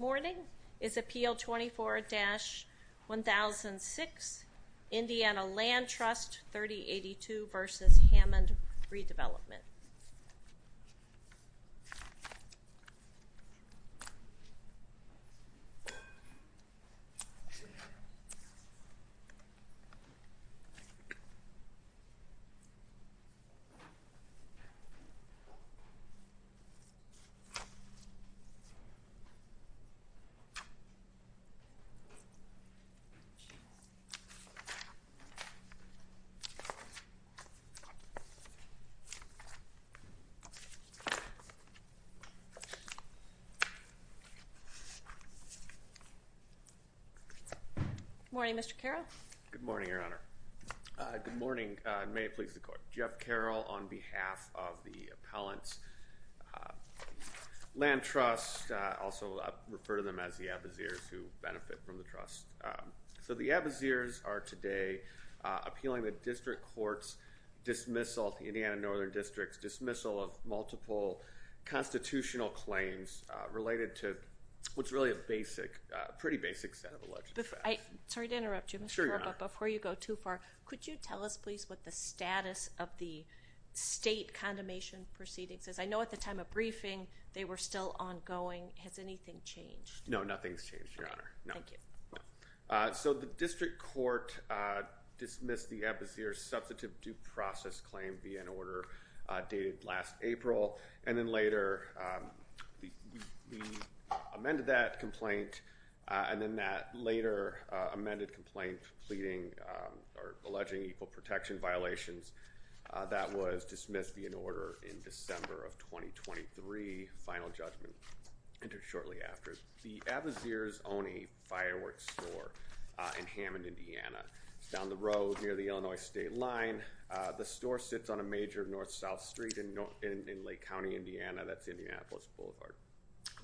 morning is Appeal 24-1006, Indiana Land Trust 3082 v. Hammond Redevelopment. Good morning, Mr. Carroll. Good morning, Your Honor. Good morning. May it please the court. Jeff Carroll on behalf of the Appellant's Land Trust. I also refer to them as the Abbeseers who benefit from the trust. So the Abbeseers are today appealing the district court's dismissal of the Indiana Northern District's dismissal of multiple constitutional claims related to what's really a basic, pretty basic set of alleged offense. Sorry to interrupt you, Mr. Carroll, but before you go too far, could you tell us please what the status of the state condemnation proceedings is? I know at the time of briefing they were still ongoing. Has anything changed? No, nothing's changed, Your Honor. So the district court dismissed the Abbeseers substantive due process claim via an order dated last April and then later amended that complaint and then that later amended complaint pleading or protection violations. That was dismissed via an order in December of 2023. Final judgment entered shortly after. The Abbeseers own a fireworks store in Hammond, Indiana. It's down the road near the Illinois state line. The store sits on a major north-south street in Lake County, Indiana. That's Indianapolis Boulevard.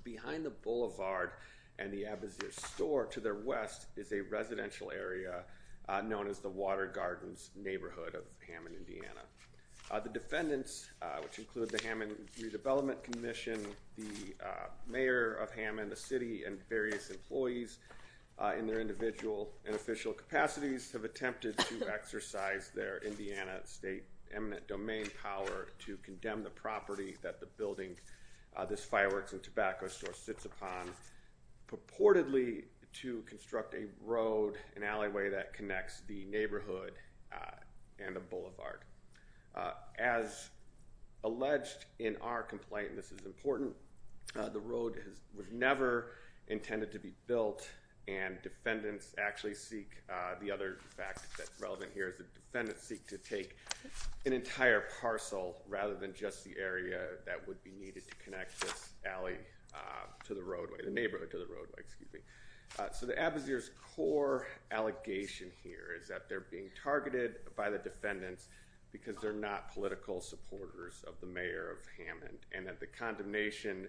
Behind the boulevard and the Abbeseers store to their west is a residential area known as the Water Gardens neighborhood of Hammond, Indiana. The defendants, which include the Hammond Redevelopment Commission, the mayor of Hammond, the city, and various employees in their individual and official capacities have attempted to exercise their Indiana state eminent domain power to condemn the property that the building, this neighborhood to the roadway, the neighborhood to the roadway, excuse me. So the Abbeseers core allegation here is that they're being targeted by the defendants because they're not political supporters of the mayor of Hammond and that the condemnation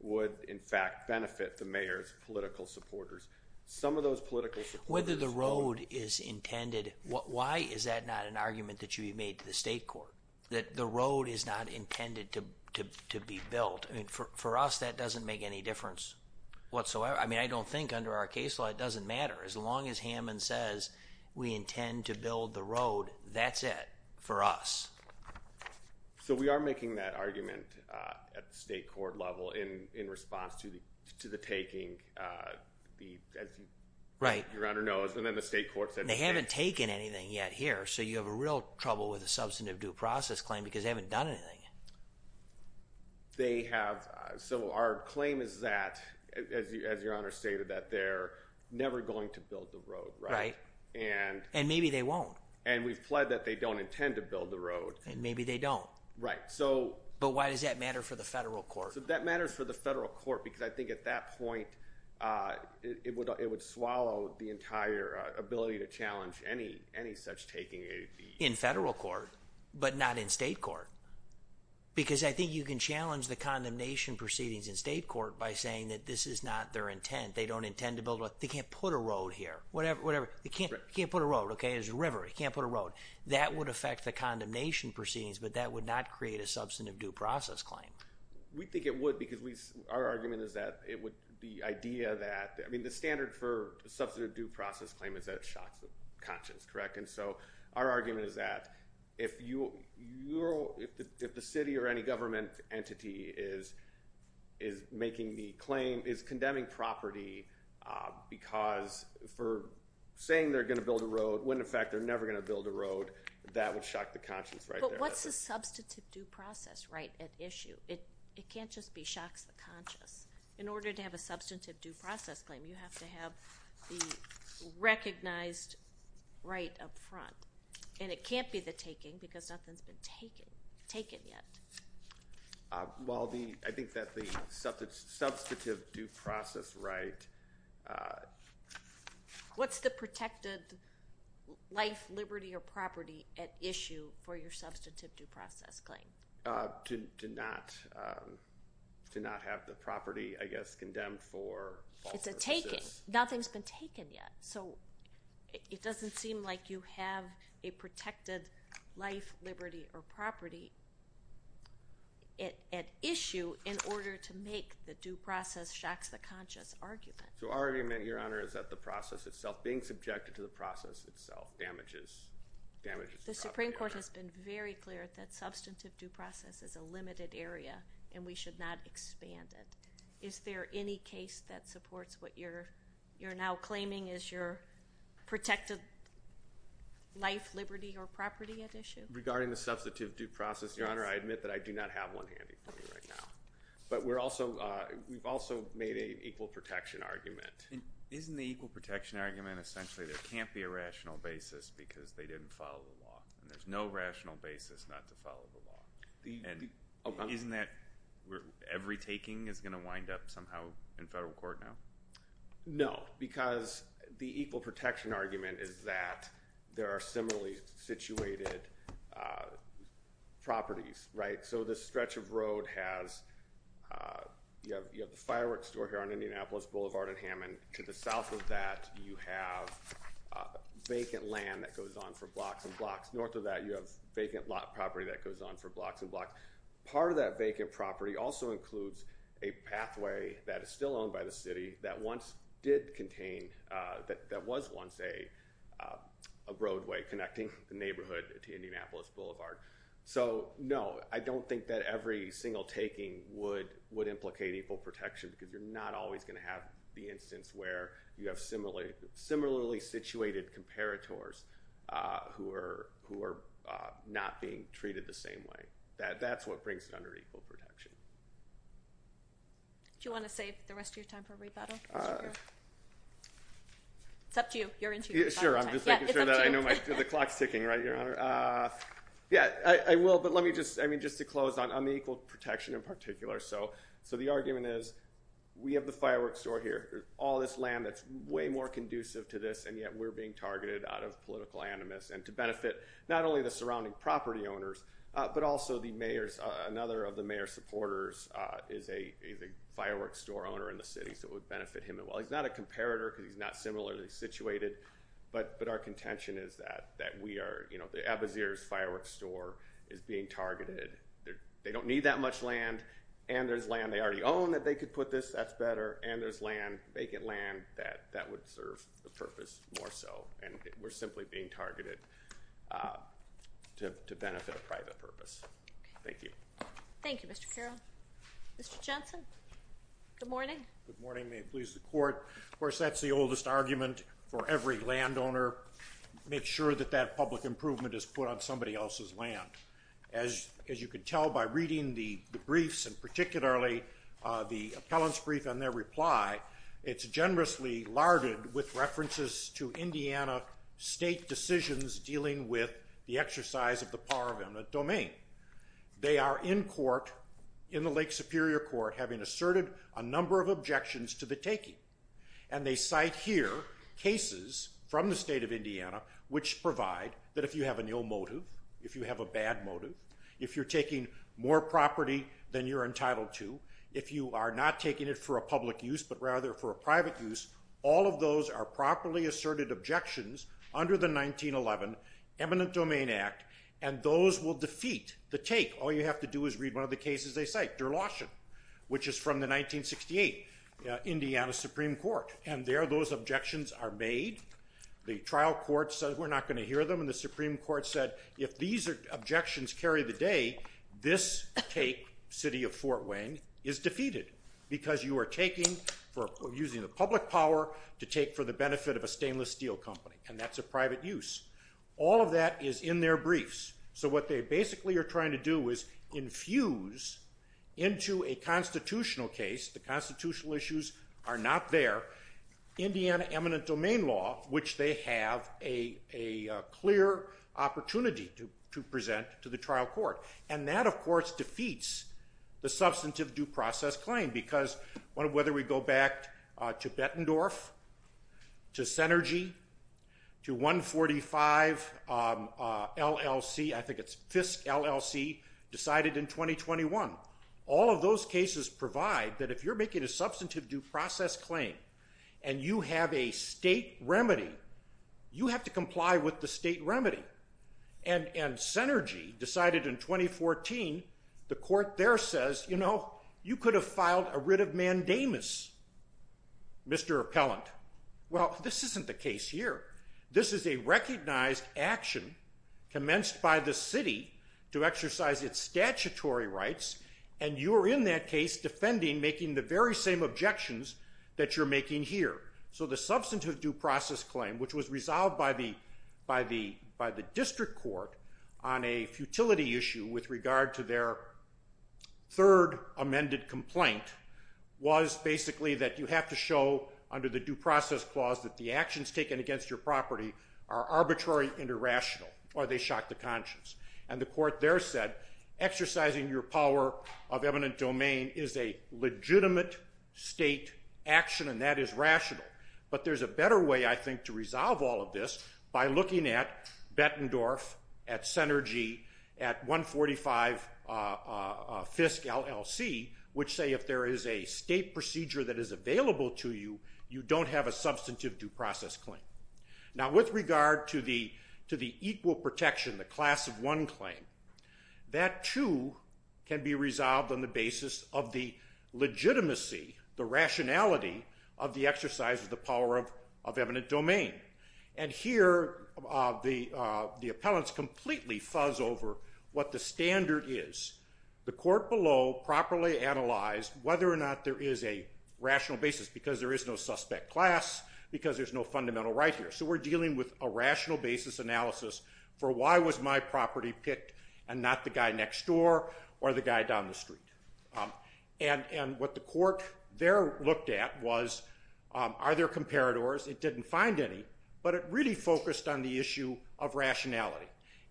would in fact benefit the mayor's political supporters. Some of those political supporters... Whether the road is intended, why is that not an argument that you made to the state court? That the road is not intended to be built. I mean for us that doesn't make any difference whatsoever. I mean I don't think under our case law it doesn't matter. As long as Hammond says we intend to build the road, that's it for us. So we are making that argument at the state court level in in response to the to the taking. Right. Your Honor knows and then the state court said... They haven't taken anything yet here so you have a real trouble with a substantive due process claim because they haven't done anything. They have... So our claim is that, as your Honor stated, that they're never going to build the road. Right. And maybe they won't. And we've pled that they don't intend to build the road. And maybe they don't. Right. But why does that matter for the federal court? That matters for the federal court because I think at that point it would it would swallow the entire ability to Because I think you can challenge the condemnation proceedings in state court by saying that this is not their intent. They don't intend to build a... They can't put a road here. Whatever, whatever. They can't put a road. Okay. There's a river. They can't put a road. That would affect the condemnation proceedings but that would not create a substantive due process claim. We think it would because our argument is that it would... The idea that... I mean the standard for substantive due process claim is that it shocks the conscience, correct? And so our if the city or any government entity is is making the claim is condemning property because for saying they're gonna build a road when in fact they're never gonna build a road that would shock the conscience right there. But what's the substantive due process right at issue? It it can't just be shocks the conscience. In order to have a substantive due process claim you have to have the recognized right up front. And it can't be the taking because nothing's been taken. Taken yet. Well the I think that the substantive due process right... What's the protected life, liberty, or property at issue for your substantive due process claim? To not to not have the property I guess condemned for... It's a taken. Nothing's been taken yet. So it doesn't seem like you have a liberty or property at issue in order to make the due process shocks the conscience argument. So our argument your honor is that the process itself being subjected to the process itself damages damages... The Supreme Court has been very clear that substantive due process is a limited area and we should not expand it. Is there any case that supports what you're you're now claiming is your protected life, liberty, or property at issue? Regarding the substantive due process your honor I admit that I do not have one handy for you right now. But we're also we've also made a equal protection argument. Isn't the equal protection argument essentially there can't be a rational basis because they didn't follow the law. There's no rational basis not to follow the law. Isn't that where every taking is gonna wind up somehow in federal court now? No because the equal protection argument is that there are similarly situated properties right. So this stretch of road has you know you have the fireworks store here on Indianapolis Boulevard and Hammond. To the south of that you have vacant land that goes on for blocks and blocks. North of that you have vacant lot property that goes on for blocks and blocks. Part of that vacant property also includes a pathway that is still owned by the city that once did contain that that was once a a roadway connecting the neighborhood to Indianapolis Boulevard. So no I don't think that every single taking would would implicate equal protection because you're not always gonna have the instance where you have similarly similarly situated comparators who are who are not being treated the way that that's what brings it under equal protection. Do you want to save the rest of your time for rebuttal? It's up to you. Sure I'm just making sure that I know my clock's ticking right your honor. Yeah I will but let me just I mean just to close on the equal protection in particular so so the argument is we have the fireworks store here all this land that's way more conducive to this and yet we're being targeted out of political animus and to benefit not only the surrounding property owners but also the mayor's another of the mayor supporters is a firework store owner in the city so it would benefit him and well he's not a comparator because he's not similarly situated but but our contention is that that we are you know the Abazir's firework store is being targeted there they don't need that much land and there's land they already own that they could put this that's better and there's land vacant land that that would serve the purpose more so and we're simply being targeted to benefit a private purpose. Thank you. Thank you Mr. Carroll. Mr. Jensen. Good morning. Good morning may it please the court. Of course that's the oldest argument for every landowner make sure that that public improvement is put on somebody else's land. As you can tell by reading the briefs and particularly the larded with references to Indiana state decisions dealing with the exercise of the power of eminent domain. They are in court in the Lake Superior Court having asserted a number of objections to the taking and they cite here cases from the state of Indiana which provide that if you have a new motive if you have a bad motive if you're taking more property than you're entitled to if you are not taking it for a public use but rather for a private use all of those are properly asserted objections under the 1911 Eminent Domain Act and those will defeat the take all you have to do is read one of the cases they cite Derloshan which is from the 1968 Indiana Supreme Court and there those objections are made the trial court says we're not going to hear them and the Supreme Court said if these are objections carry the day this take city of Fort Wayne is defeated because you are taking for using the public power to take for the benefit of a stainless steel company and that's a private use all of that is in their briefs so what they basically are trying to do is infuse into a constitutional case the constitutional issues are not there Indiana eminent domain law which they have a clear opportunity to present to trial court and that of course defeats the substantive due process claim because one of whether we go back to Bettendorf to synergy to 145 LLC I think it's Fisk LLC decided in 2021 all of those cases provide that if you're making a substantive due process claim and you have a state remedy you have to the court there says you know you could have filed a writ of mandamus mr. appellant well this isn't the case here this is a recognized action commenced by the city to exercise its statutory rights and you are in that case defending making the very same objections that you're making here so the substantive due process claim which was resolved by the by the by the issue with regard to their third amended complaint was basically that you have to show under the due process clause that the actions taken against your property are arbitrary interrational or they shock the conscience and the court there said exercising your power of eminent domain is a legitimate state action and that is rational but there's a better way I think to resolve all of this by looking at Bettendorf at synergy at 145 Fisk LLC which say if there is a state procedure that is available to you you don't have a substantive due process claim now with regard to the to the equal protection the class of one claim that too can be resolved on the basis of the legitimacy the rationality of the the appellants completely fuzz over what the standard is the court below properly analyzed whether or not there is a rational basis because there is no suspect class because there's no fundamental right here so we're dealing with a rational basis analysis for why was my property picked and not the guy next door or the guy down the street and and what the court there looked at was are there comparators it didn't find any but it really focused on the issue of rationality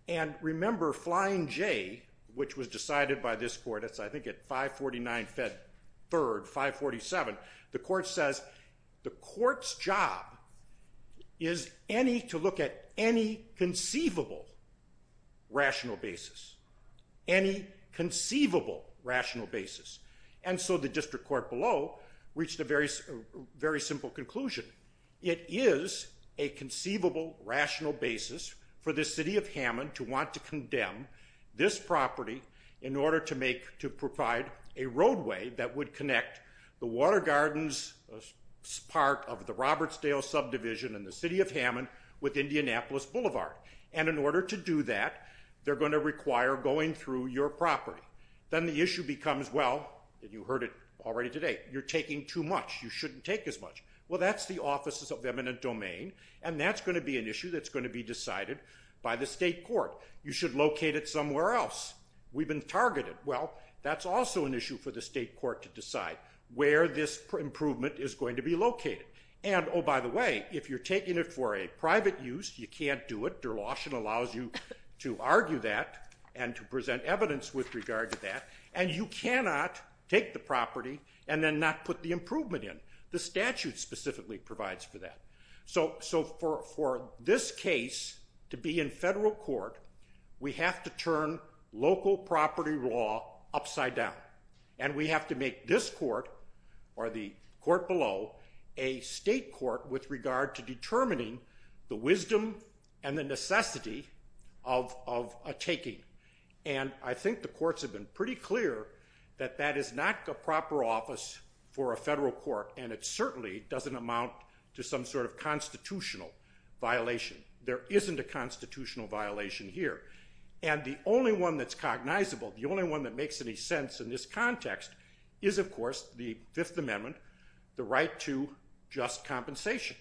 and remember flying J which was decided by this court it's I think it 549 Fed third 547 the court says the court's job is any to look at any conceivable rational basis any conceivable rational basis and so the very simple conclusion it is a conceivable rational basis for the city of Hammond to want to condemn this property in order to make to provide a roadway that would connect the water gardens part of the Robertsdale subdivision in the city of Hammond with Indianapolis Boulevard and in order to do that they're going to require going through your property then the issue becomes well you heard it already today you're taking too much you shouldn't take as much well that's the offices of eminent domain and that's going to be an issue that's going to be decided by the state court you should locate it somewhere else we've been targeted well that's also an issue for the state court to decide where this improvement is going to be located and oh by the way if you're taking it for a private use you can't do it der lotion allows you to argue that and to present evidence with regard to that and you cannot take the the statute specifically provides for that so so for this case to be in federal court we have to turn local property law upside down and we have to make this court or the court below a state court with regard to determining the wisdom and the necessity of a taking and I think the courts have been pretty clear that that is not the proper office for a federal court and it certainly doesn't amount to some sort of constitutional violation there isn't a constitutional violation here and the only one that's cognizable the only one that makes any sense in this context is of course the Fifth Amendment the right to just compensation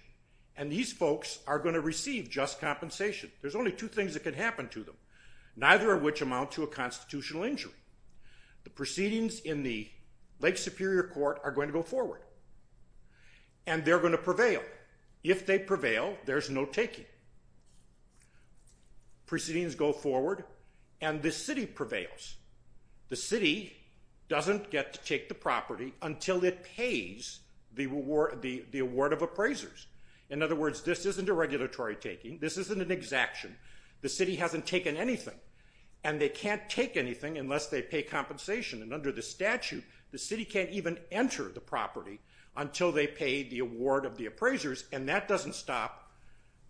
and these folks are going to receive just compensation there's only two things that can happen to them neither of which amount to a proceedings in the Lake Superior Court are going to go forward and they're going to prevail if they prevail there's no taking proceedings go forward and the city prevails the city doesn't get to take the property until it pays the reward the the award of appraisers in other words this isn't a regulatory taking this isn't an exaction the city hasn't taken anything and they can't take anything unless they pay compensation and under the statute the city can't even enter the property until they paid the award of the appraisers and that doesn't stop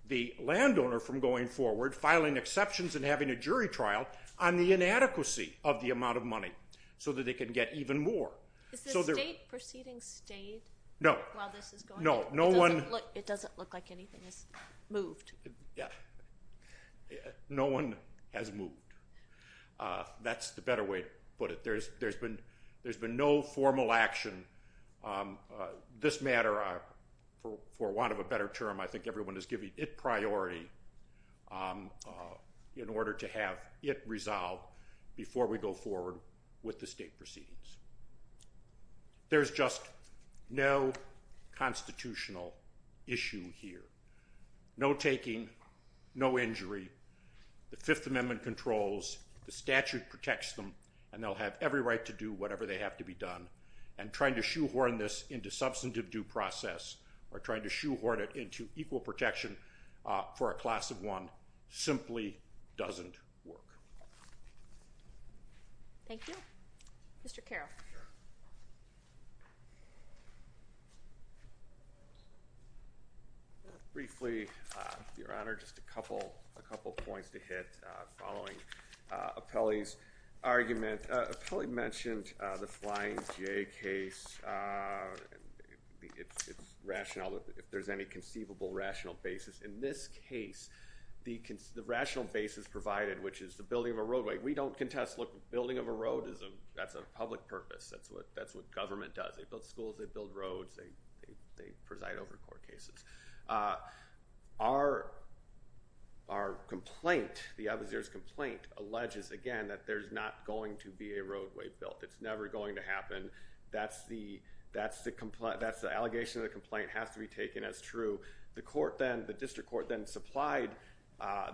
the landowner from going forward filing exceptions and having a jury trial on the inadequacy of the amount of money so that they can get even more no no no one it doesn't look like anything is moved yeah no one has moved that's the better way to put it there's there's been there's been no formal action this matter for want of a better term I think everyone is giving it priority in order to have it resolved before we go forward with the state proceedings there's just no constitutional issue here no taking no injury the Fifth Amendment controls the statute protects them and they'll have every right to do whatever they have to be done and trying to shoehorn this into substantive due process or trying to shoehorn it into equal protection for a class of one simply doesn't work thank you mr. Carroll briefly your honor just a couple a couple points to hit following a Peli's argument probably mentioned the flying J case it's rational if there's any conceivable rational basis in this case the can the rational basis provided which is the building of a roadway we don't contest look building of a road isn't that's a public purpose that's what that's what government does they build schools they build roads they they preside over court cases our our complaint the others there's complaint alleges again that there's not going to be a roadway built it's never going to happen that's the that's the complaint that's the allegation of the complaint has to be taken as true the court then the district court then supplied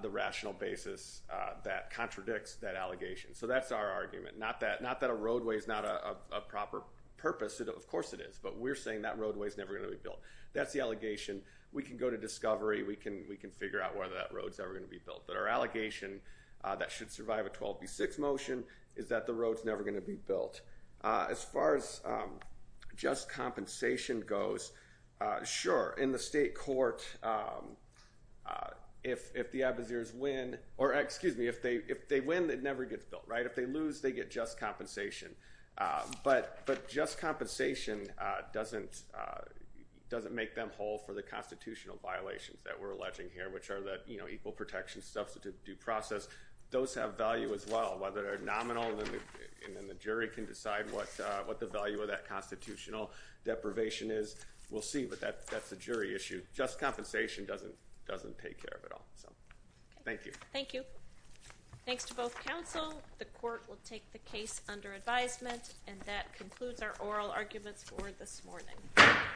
the rational basis that contradicts that allegation so that's our argument not that not that a roadway is not a proper purpose it of course it is but we're saying that roadway is never going to be built that's the allegation we can go to discovery we can we can figure out whether that roads ever going to be built that our allegation that should survive a 12b6 motion is that the roads never going to be built as far as just compensation goes sure in the state court if the Abazirs win or excuse me if they if they win that never gets built right if they lose they get just compensation but but just compensation doesn't doesn't make them whole for the constitutional violations that we're alleging here which are that you know equal protection substitute due process those have value as well whether they're nominal and then the jury can decide what what the value of that constitutional deprivation is we'll see but that that's a jury issue just compensation doesn't doesn't take care of it all so thank you thank you thanks to both counsel the court will take the case under advisement and that concludes our oral arguments for this morning